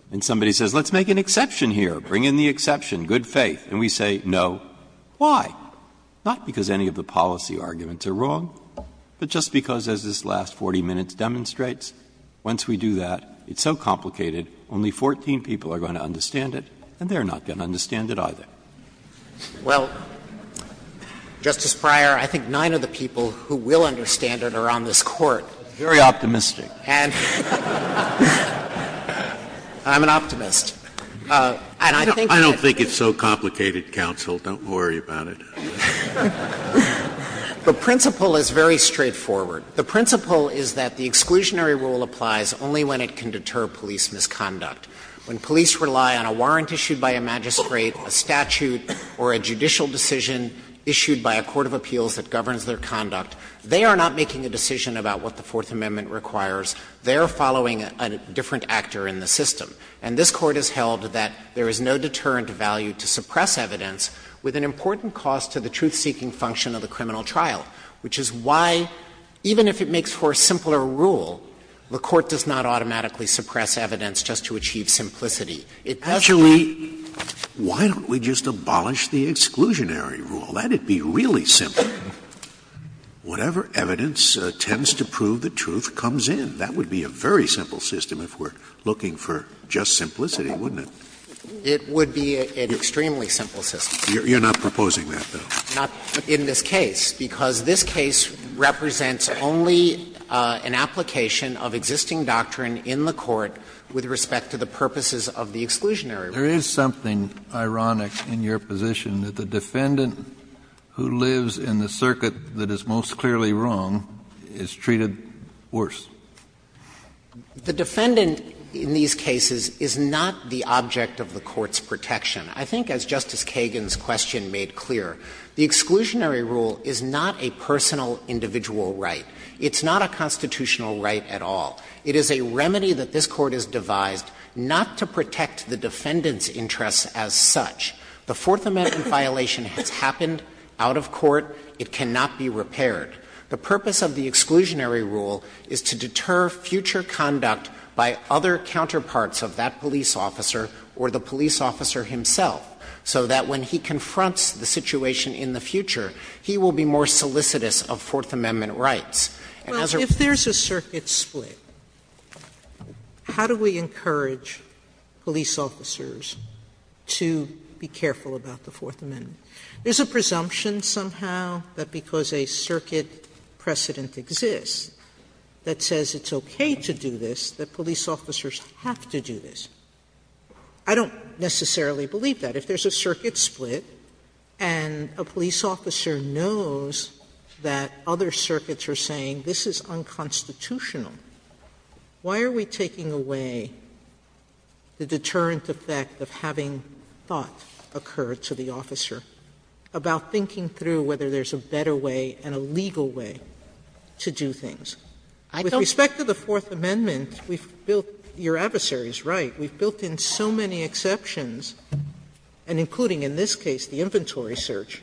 When somebody says let's make an exception here, bring in the exception, good faith, and we say no, why? Not because any of the policy arguments are wrong, but just because as this last 40 minutes demonstrates, once we do that, it's so complicated, only 14 people are going to understand it, and they're not going to understand it either. Dreeben Well, Justice Breyer, I think nine of the people who will understand it are on this Court. Scalia Very optimistic. Dreeben And I'm an optimist. And I think that's Scalia I don't think it's so complicated, counsel. Don't worry about it. Dreeben The principle is very straightforward. The principle is that the exclusionary rule applies only when it can deter police misconduct. When police rely on a warrant issued by a magistrate, a statute, or a judicial decision issued by a court of appeals that governs their conduct, they are not making a decision about what the Fourth Amendment requires. They are following a different actor in the system. And this Court has held that there is no deterrent value to suppress evidence with an important cost to the truth-seeking function of the criminal trial, which is why, even if it makes for a simpler rule, the Court does not automatically suppress evidence just to achieve simplicity. It does not Scalia Actually, why don't we just abolish the exclusionary rule? Let it be really simple. Whatever evidence tends to prove the truth comes in. That would be a very simple system if we're looking for just simplicity, wouldn't it? Dreeben It would be an extremely simple system. Scalia You're not proposing that, though? Dreeben Not in this case, because this case represents only an application of existing doctrine in the Court with respect to the purposes of the exclusionary rule. Kennedy There is something ironic in your position that the defendant who lives in the circuit that is most clearly wrong is treated worse. Dreeben The defendant in these cases is not the object of the Court's protection. I think, as Justice Kagan's question made clear, the exclusionary rule is not a personal individual right. It's not a constitutional right at all. It is a remedy that this Court has devised not to protect the defendant's interests as such. The Fourth Amendment violation has happened out of court. It cannot be repaired. The purpose of the exclusionary rule is to deter future conduct by other counterparts of that police officer or the police officer himself, so that when he confronts the situation in the future, he will be more solicitous of Fourth Amendment rights. And as a rule of law, I would say, how do we encourage police officers to be careful about the Fourth Amendment? There is a presumption somehow that because a circuit precedent exists that says it's okay to do this, that police officers have to do this. I don't necessarily believe that. If there is a circuit split and a police officer knows that other circuits are saying this is unconstitutional, why are we taking away the deterrent effect of having thought occur to the officer about thinking through whether there is a better way and a legal way to do things? With respect to the Fourth Amendment, we've built — your adversary is right — we've built in so many exceptions, and including in this case the inventory search,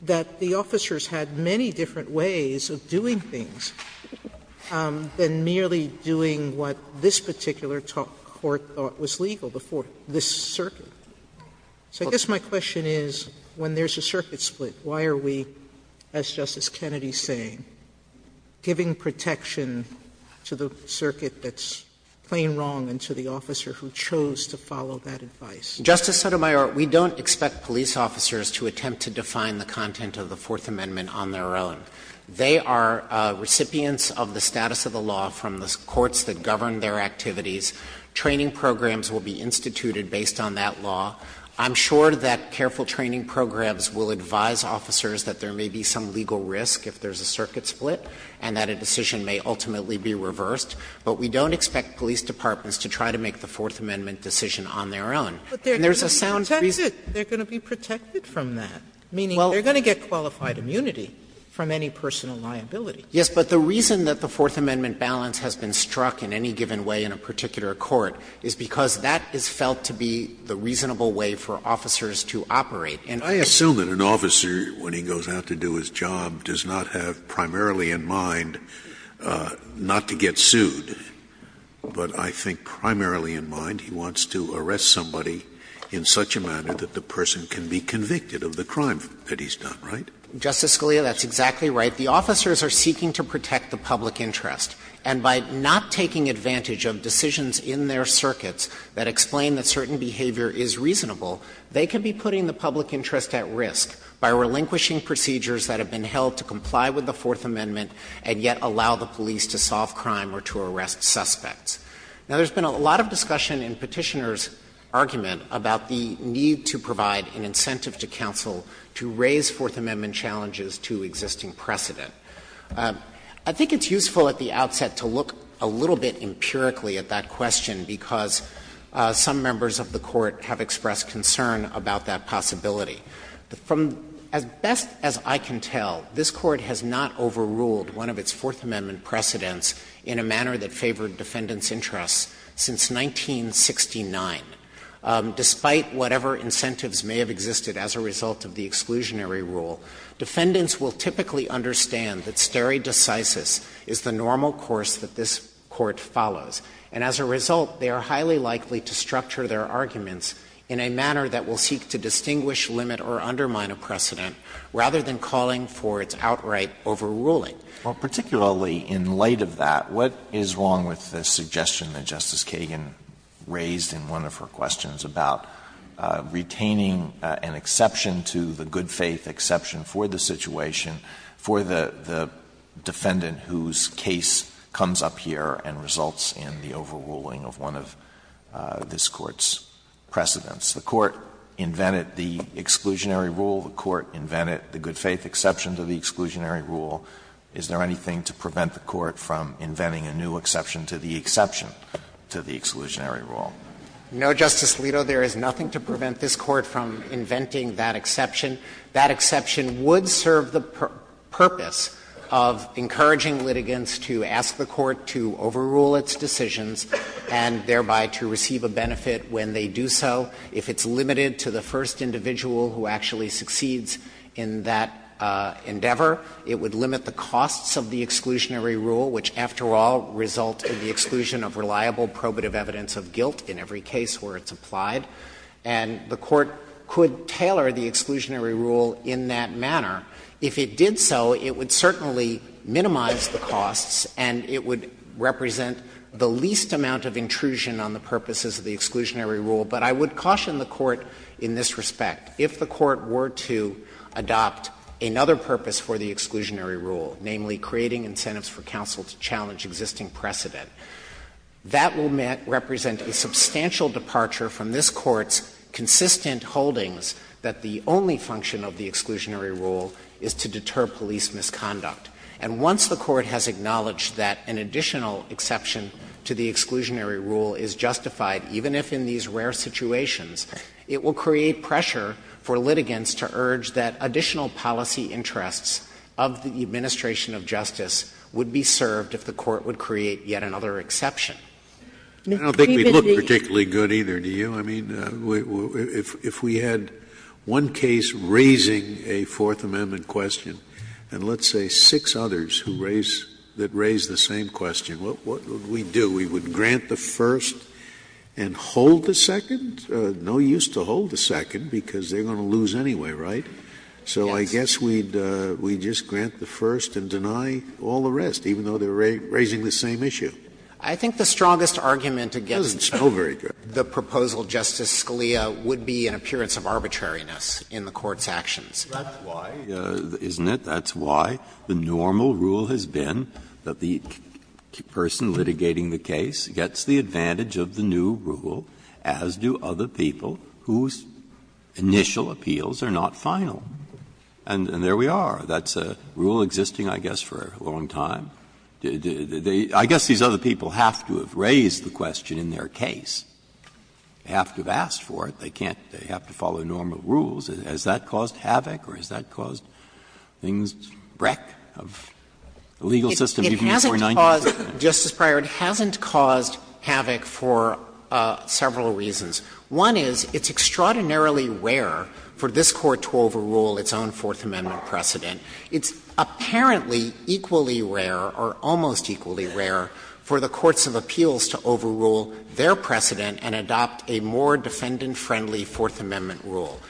that the officers had many different ways of doing things than merely doing what this particular court thought was legal before this circuit. So I guess my question is, when there is a circuit split, why are we, as Justice Kennedy is saying, giving protection to the circuit that's plain wrong and to the officer who chose to follow that advice? Justice Sotomayor, we don't expect police officers to attempt to define the content of the Fourth Amendment on their own. They are recipients of the status of the law from the courts that govern their activities. Training programs will be instituted based on that law. I'm sure that careful training programs will advise officers that there may be some legal risk if there is a circuit split and that a decision may ultimately be reversed, but we don't expect police departments to try to make the Fourth Amendment decision on their own. And there's a sound reason to do that. Sotomayor, they're going to be protected from that, meaning they're going to get qualified immunity from any personal liability. Yes, but the reason that the Fourth Amendment balance has been struck in any given way in a particular court is because that is felt to be the reasonable way for officers to operate. And I assume that an officer, when he goes out to do his job, does not have primarily in mind not to get sued, but I think primarily in mind he wants to arrest somebody in such a manner that the person can be convicted of the crime that he's done, right? Justice Scalia, that's exactly right. The officers are seeking to protect the public interest. And by not taking advantage of decisions in their circuits that explain that certain behavior is reasonable, they could be putting the public interest at risk by relinquishing procedures that have been held to comply with the Fourth Amendment and yet allow the police to solve crime or to arrest suspects. Now, there's been a lot of discussion in Petitioner's argument about the need to provide an incentive to counsel to raise Fourth Amendment challenges to existing precedent. I think it's useful at the outset to look a little bit empirically at that question, because some members of the Court have expressed concern about that possibility. From as best as I can tell, this Court has not overruled one of its Fourth Amendment precedents in a manner that favored defendants' interests since 1969. Despite whatever incentives may have existed as a result of the exclusionary rule, defendants will typically understand that stare decisis is the normal course that this Court follows. And as a result, they are highly likely to structure their arguments in a manner that will seek to distinguish, limit, or undermine a precedent, rather than calling for its outright overruling. Alito, particularly in light of that, what is wrong with the suggestion that Justice Kagan raised in one of her questions about retaining an exception to the good-faith exception for the situation for the defendant whose case comes up here and results in the overruling of one of this Court's precedents? The Court invented the exclusionary rule. The Court invented the good-faith exception to the exclusionary rule. Is there anything to prevent the Court from inventing a new exception to the exception to the exclusionary rule? No, Justice Alito, there is nothing to prevent this Court from inventing that exception. That exception would serve the purpose of encouraging litigants to ask the Court to overrule its decisions and thereby to receive a benefit when they do so if it's succeeds in that endeavor. It would limit the costs of the exclusionary rule, which, after all, result in the exclusion of reliable probative evidence of guilt in every case where it's applied. And the Court could tailor the exclusionary rule in that manner. If it did so, it would certainly minimize the costs and it would represent the least amount of intrusion on the purposes of the exclusionary rule. But I would caution the Court in this respect. If the Court were to adopt another purpose for the exclusionary rule, namely, creating incentives for counsel to challenge existing precedent, that will represent a substantial departure from this Court's consistent holdings that the only function of the exclusionary rule is to deter police misconduct. And once the Court has acknowledged that an additional exception to the exclusionary rule is justified, even if in these rare situations, it will create pressure for litigants to urge that additional policy interests of the administration of justice would be served if the Court would create yet another exception. I don't think we'd look particularly good either, do you? I mean, if we had one case raising a Fourth Amendment question, and let's say six others who raise the same question, what would we do? We would grant the first and hold the second? No use to hold the second, because they're going to lose anyway, right? So I guess we'd just grant the first and deny all the rest, even though they're raising the same issue. It doesn't smell very good. I think the strongest argument against the proposal, Justice Scalia, would be an appearance of arbitrariness in the Court's actions. That's why, isn't it? That's why the normal rule has been that the person litigating the case gets the advantage of the new rule, as do other people whose initial appeals are not final. And there we are. That's a rule existing, I guess, for a long time. I guess these other people have to have raised the question in their case. They have to have asked for it. They can't do it. They have to follow normal rules. Has that caused havoc or has that caused things, wreck of the legal system even before 1990? It hasn't caused, Justice Breyer, it hasn't caused havoc for several reasons. One is, it's extraordinarily rare for this Court to overrule its own Fourth Amendment precedent. It's apparently equally rare, or almost equally rare, for the courts of appeals to overrule their precedent and adopt a more defendant-friendly Fourth Amendment rule.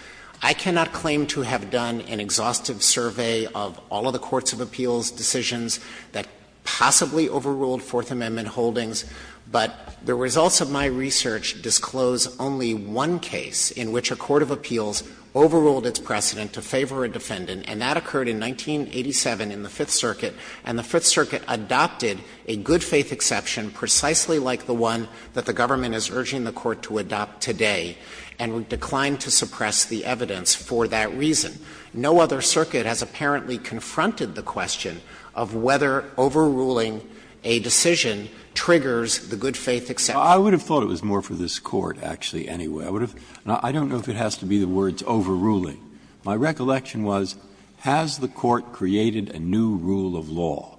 I cannot claim to have done an exhaustive survey of all of the courts of appeals' decisions that possibly overruled Fourth Amendment holdings, but the results of my research disclose only one case in which a court of appeals overruled its precedent to favor a defendant, and that occurred in 1987 in the Fifth Circuit. And the Fifth Circuit adopted a good-faith exception precisely like the one that the Fifth Circuit adopted in 1987, and declined to suppress the evidence for that reason. No other circuit has apparently confronted the question of whether overruling a decision triggers the good-faith exception. Breyer. I would have thought it was more for this Court, actually, anyway. I would have — I don't know if it has to be the words overruling. My recollection was, has the Court created a new rule of law?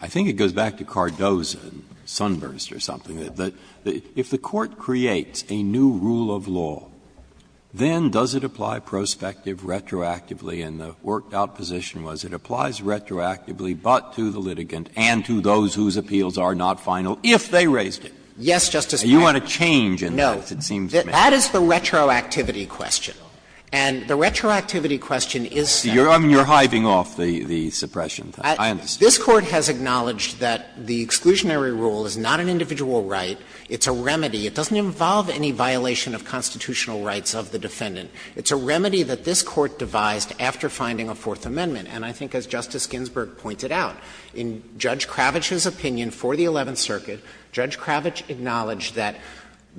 I think it goes back to Cardozo and Sunburst or something. If the Court creates a new rule of law, then does it apply prospective retroactively and the worked-out position was it applies retroactively but to the litigant and to those whose appeals are not final if they raised it? Yes, Justice Breyer. And you want a change in that, it seems to me. No. That is the retroactivity question. And the retroactivity question is, Senator Breyer. You are hiving off the suppression thing. I understand. This Court has acknowledged that the exclusionary rule is not an individual right. It's a remedy. It doesn't involve any violation of constitutional rights of the defendant. It's a remedy that this Court devised after finding a Fourth Amendment. And I think, as Justice Ginsburg pointed out, in Judge Kravitch's opinion for the Eleventh Circuit, Judge Kravitch acknowledged that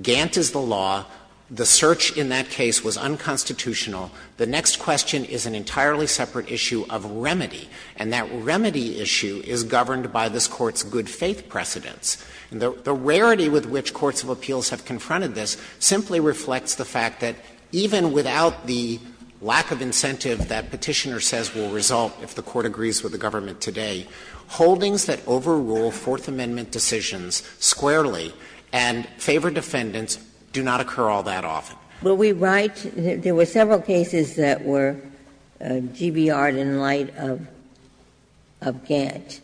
Gantt is the law, the search in that case was unconstitutional, the next question is an entirely separate issue of remedy, and that remedy issue is governed by this Court's good-faith precedents. And the rarity with which courts of appeals have confronted this simply reflects the fact that even without the lack of incentive that Petitioner says will result if the Court agrees with the government today, holdings that overrule Fourth Amendment decisions squarely and favor defendants do not occur all that often. Ginsburg-McGillivray Will we write — there were several cases that were GBR'd in light of Gantt.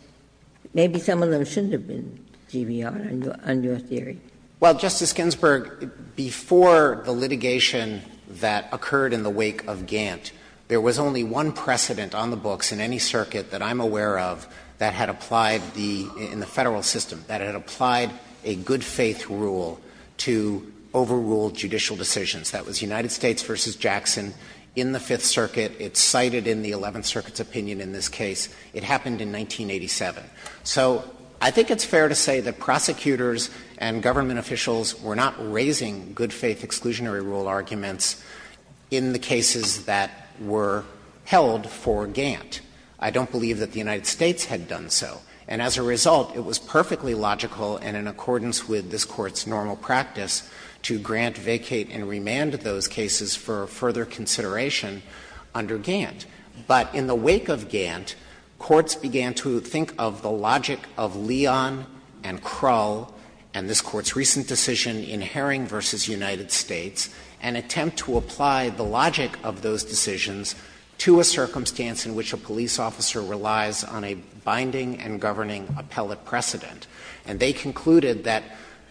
Maybe some of them shouldn't have been GBR'd, on your theory. Well, Justice Ginsburg, before the litigation that occurred in the wake of Gantt, there was only one precedent on the books in any circuit that I'm aware of that had applied the — in the Federal system that had applied a good-faith rule to overrule judicial decisions. That was United States v. Jackson in the Fifth Circuit. It's cited in the Eleventh Circuit's opinion in this case. It happened in 1987. So I think it's fair to say that prosecutors and government officials were not raising good-faith exclusionary rule arguments in the cases that were held for Gantt. I don't believe that the United States had done so. And as a result, it was perfectly logical and in accordance with this Court's normal practice to grant, vacate, and remand those cases for further consideration under Gantt. But in the wake of Gantt, courts began to think of the logic of Leon and Krull and this Court's recent decision in Herring v. United States, and attempt to apply the logic of those decisions to a circumstance in which a police officer relies on a binding and governing appellate precedent. And they concluded that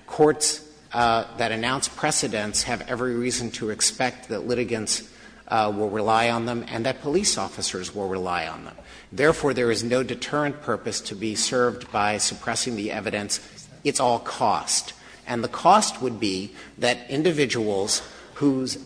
courts that announce precedents have every reason to expect that litigants will rely on them and that police officers will rely on them. Therefore, there is no deterrent purpose to be served by suppressing the evidence. It's all cost. And the cost would be that individuals whose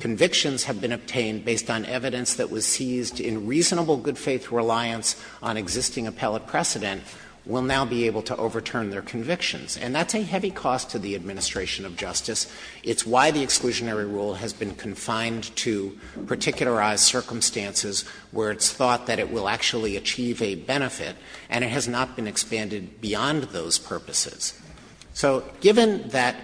convictions have been obtained based on evidence that was seized in reasonable good-faith reliance on existing appellate precedent will now be able to overturn their convictions. And that's a heavy cost to the administration of justice. It's why the exclusionary rule has been confined to particularized circumstances where it's thought that it will actually achieve a benefit, and it has not been expanded beyond those purposes. So given that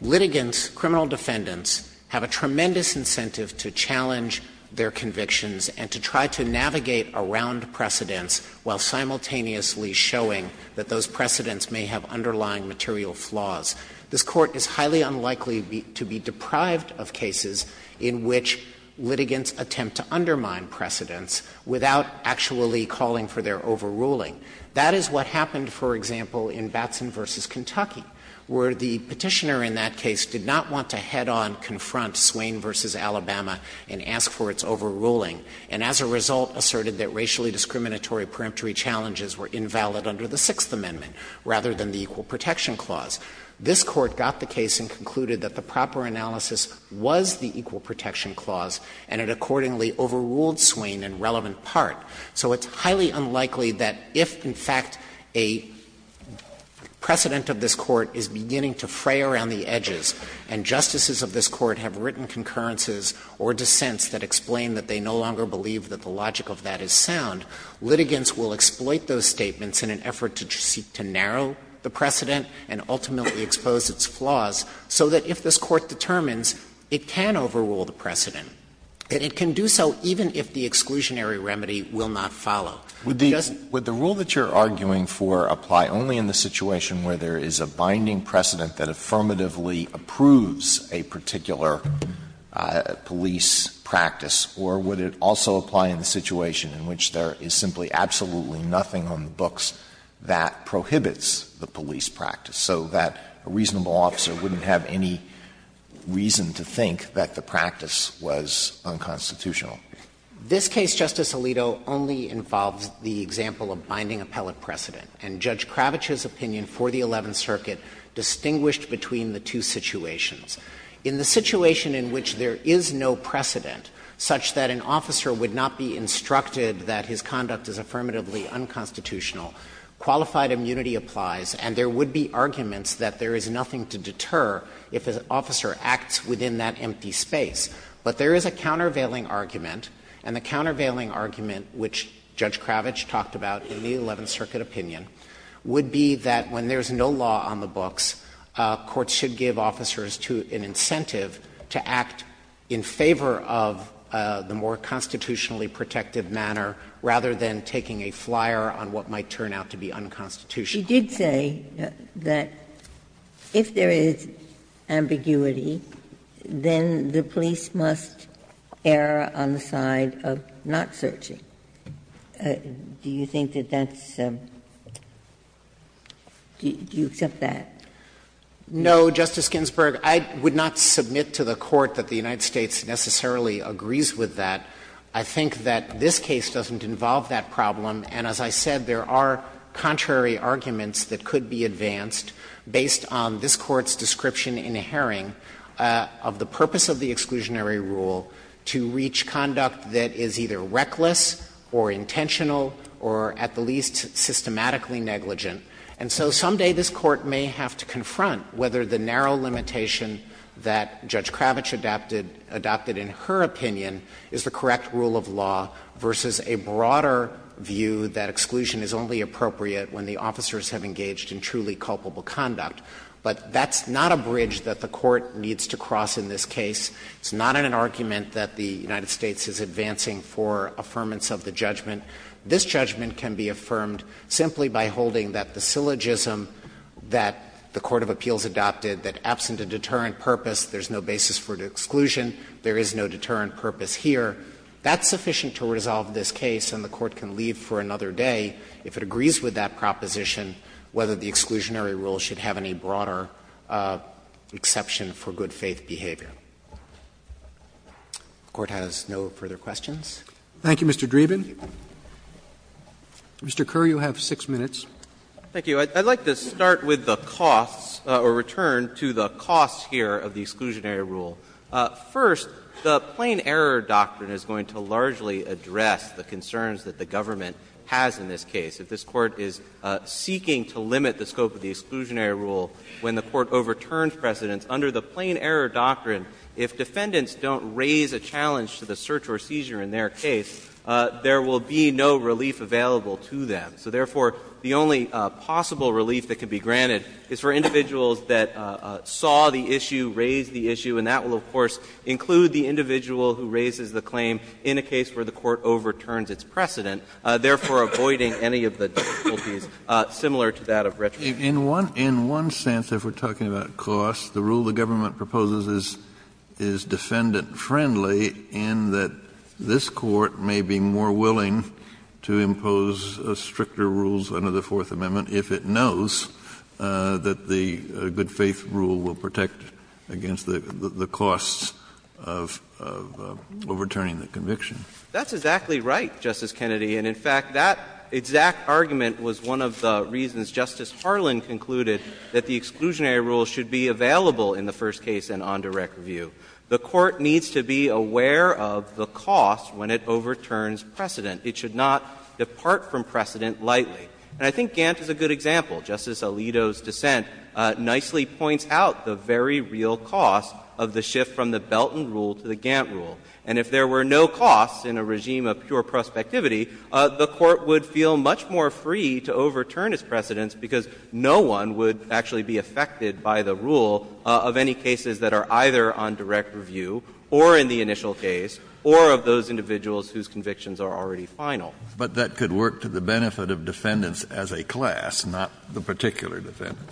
litigants, criminal defendants, have a tremendous incentive to challenge their convictions and to try to navigate around precedents while simultaneously showing that those precedents may have underlying material flaws, this Court is highly unlikely to be deprived of cases in which litigants attempt to undermine precedents without actually calling for their overruling. That is what happened, for example, in Batson v. Kentucky, where the Petitioner in that case did not want to head-on confront Swain v. Alabama and ask for its overruling, and as a result asserted that racially discriminatory peremptory challenges were invalid under the Sixth Amendment rather than the Equal Protection Clause. This Court got the case and concluded that the proper analysis was the Equal Protection Clause, and it accordingly overruled Swain in relevant part. So it's highly unlikely that if, in fact, a precedent of this Court is beginning to fray around the edges and justices of this Court have written concurrences or dissents that explain that they no longer believe that the logic of that is sound, litigants will exploit those statements in an effort to seek to narrow the precedent and ultimately expose its flaws, so that if this Court determines it can overrule the precedent, that it can do so even if the exclusionary remedy will not follow. Because the rule that you're arguing for apply only in the situation where there is a binding precedent that affirmatively approves a particular police practice, or would it also apply in the situation in which there is simply absolutely nothing on the books that prohibits the police practice, so that a reasonable officer wouldn't have any reason to think that the practice was unconstitutional? This case, Justice Alito, only involves the example of binding appellate precedent, and Judge Kravitch's opinion for the Eleventh Circuit distinguished between the two situations. In the situation in which there is no precedent, such that an officer would not be instructed that his conduct is affirmatively unconstitutional, qualified immunity applies, and there would be arguments that there is nothing to deter if an officer acts within that empty space. But there is a countervailing argument, and the countervailing argument, which Judge Kravitch's opinion, the Eleventh Circuit opinion, would be that when there is no law on the books, courts should give officers an incentive to act in favor of the more constitutionally protective manner, rather than taking a flyer on what might turn out to be unconstitutional. Ginsburg. You did say that if there is ambiguity, then the police must err on the side of not searching. Do you think that that's the do you accept that? No, Justice Ginsburg. I would not submit to the Court that the United States necessarily agrees with that. I think that this case doesn't involve that problem, and as I said, there are contrary arguments that could be advanced based on this Court's description in Herring of the purpose of the exclusionary rule to reach conduct that is either reckless or intentional or, at the least, systematically negligent. And so someday this Court may have to confront whether the narrow limitation that Judge Kravitch adopted in her opinion is the correct rule of law versus a broader view that exclusion is only appropriate when the officers have engaged in truly culpable conduct. But that's not a bridge that the Court needs to cross in this case. It's not an argument that the United States is advancing for affirmance of the judgment. This judgment can be affirmed simply by holding that the syllogism that the court of appeals adopted, that absent a deterrent purpose, there's no basis for exclusion, there is no deterrent purpose here, that's sufficient to resolve this case and the Court can leave for another day if it agrees with that proposition whether the exclusionary rule should have any broader exception for good-faith behavior. If the Court has no further questions. Thank you, Mr. Dreeben. Mr. Kerr, you have 6 minutes. Thank you. I'd like to start with the costs or return to the costs here of the exclusionary rule. First, the plain error doctrine is going to largely address the concerns that the government has in this case. If this Court is seeking to limit the scope of the exclusionary rule, when the Court overturns precedents, under the plain error doctrine, if defendants don't raise a challenge to the search or seizure in their case, there will be no relief available to them. So therefore, the only possible relief that can be granted is for individuals that saw the issue, raised the issue, and that will, of course, include the individual who raises the claim in a case where the Court overturns its precedent, therefore, avoiding any of the difficulties similar to that of retribution. Kennedy, in one sense, if we're talking about costs, the rule the government proposes is defendant-friendly in that this Court may be more willing to impose stricter rules under the Fourth Amendment if it knows that the good-faith rule will protect against the costs of overturning the conviction. That's exactly right, Justice Kennedy. And in fact, that exact argument was one of the reasons Justice Harlan concluded that the exclusionary rule should be available in the first case and on direct review. The Court needs to be aware of the cost when it overturns precedent. It should not depart from precedent lightly. And I think Gantt is a good example. Justice Alito's dissent nicely points out the very real cost of the shift from the Belton rule to the Gantt rule. And if there were no costs in a regime of pure prospectivity, the Court would feel much more free to overturn its precedents because no one would actually be affected by the rule of any cases that are either on direct review or in the initial case or of those individuals whose convictions are already final. But that could work to the benefit of defendants as a class, not the particular defendant.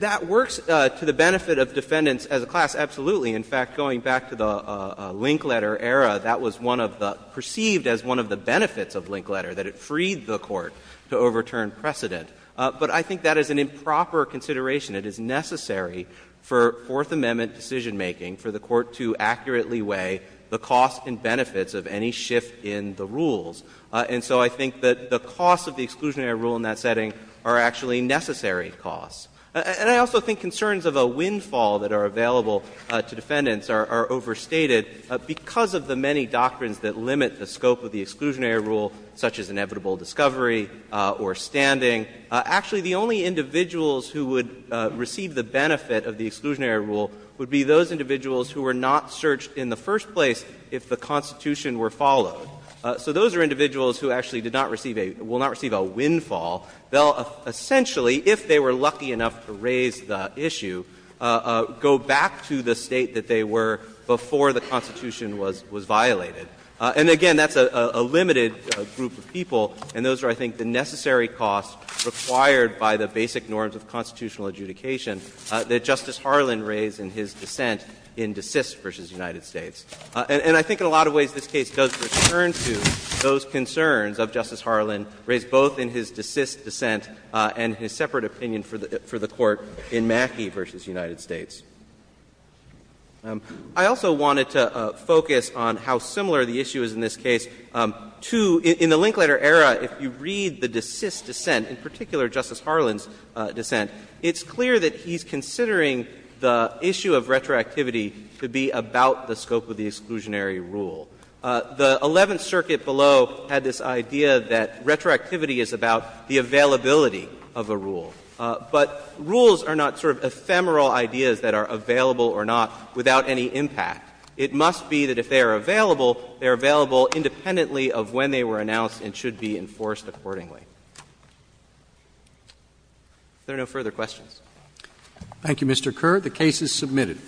That works to the benefit of defendants as a class, absolutely. In fact, going back to the Linkletter era, that was one of the — perceived as one of the benefits of Linkletter, that it freed the Court to overturn precedent. But I think that is an improper consideration. It is necessary for Fourth Amendment decisionmaking for the Court to accurately weigh the costs and benefits of any shift in the rules. And so I think that the costs of the exclusionary rule in that setting are actually necessary costs. And I also think concerns of a windfall that are available to defendants are overstated because of the many doctrines that limit the scope of the exclusionary rule, such as inevitable discovery or standing. Actually, the only individuals who would receive the benefit of the exclusionary rule would be those individuals who were not searched in the first place if the Constitution were followed. So those are individuals who actually did not receive a — will not receive a windfall. They'll essentially, if they were lucky enough to raise the issue, go back to the State that they were before the Constitution was violated. And again, that's a limited group of people, and those are, I think, the necessary costs required by the basic norms of constitutional adjudication that Justice Harlan raised in his dissent in DeSist v. United States. And I think in a lot of ways this case does return to those concerns of Justice Harlan's DeSist dissent and his separate opinion for the Court in Mackey v. United States. I also wanted to focus on how similar the issue is in this case to — in the Linkletter era, if you read the DeSist dissent, in particular Justice Harlan's dissent, it's clear that he's considering the issue of retroactivity to be about the scope of the exclusionary rule. The Eleventh Circuit below had this idea that retroactivity is about the availability of a rule. But rules are not sort of ephemeral ideas that are available or not without any impact. It must be that if they are available, they are available independently of when they were announced and should be enforced accordingly. If there are no further questions. Roberts. Thank you, Mr. Kerr. The case is submitted.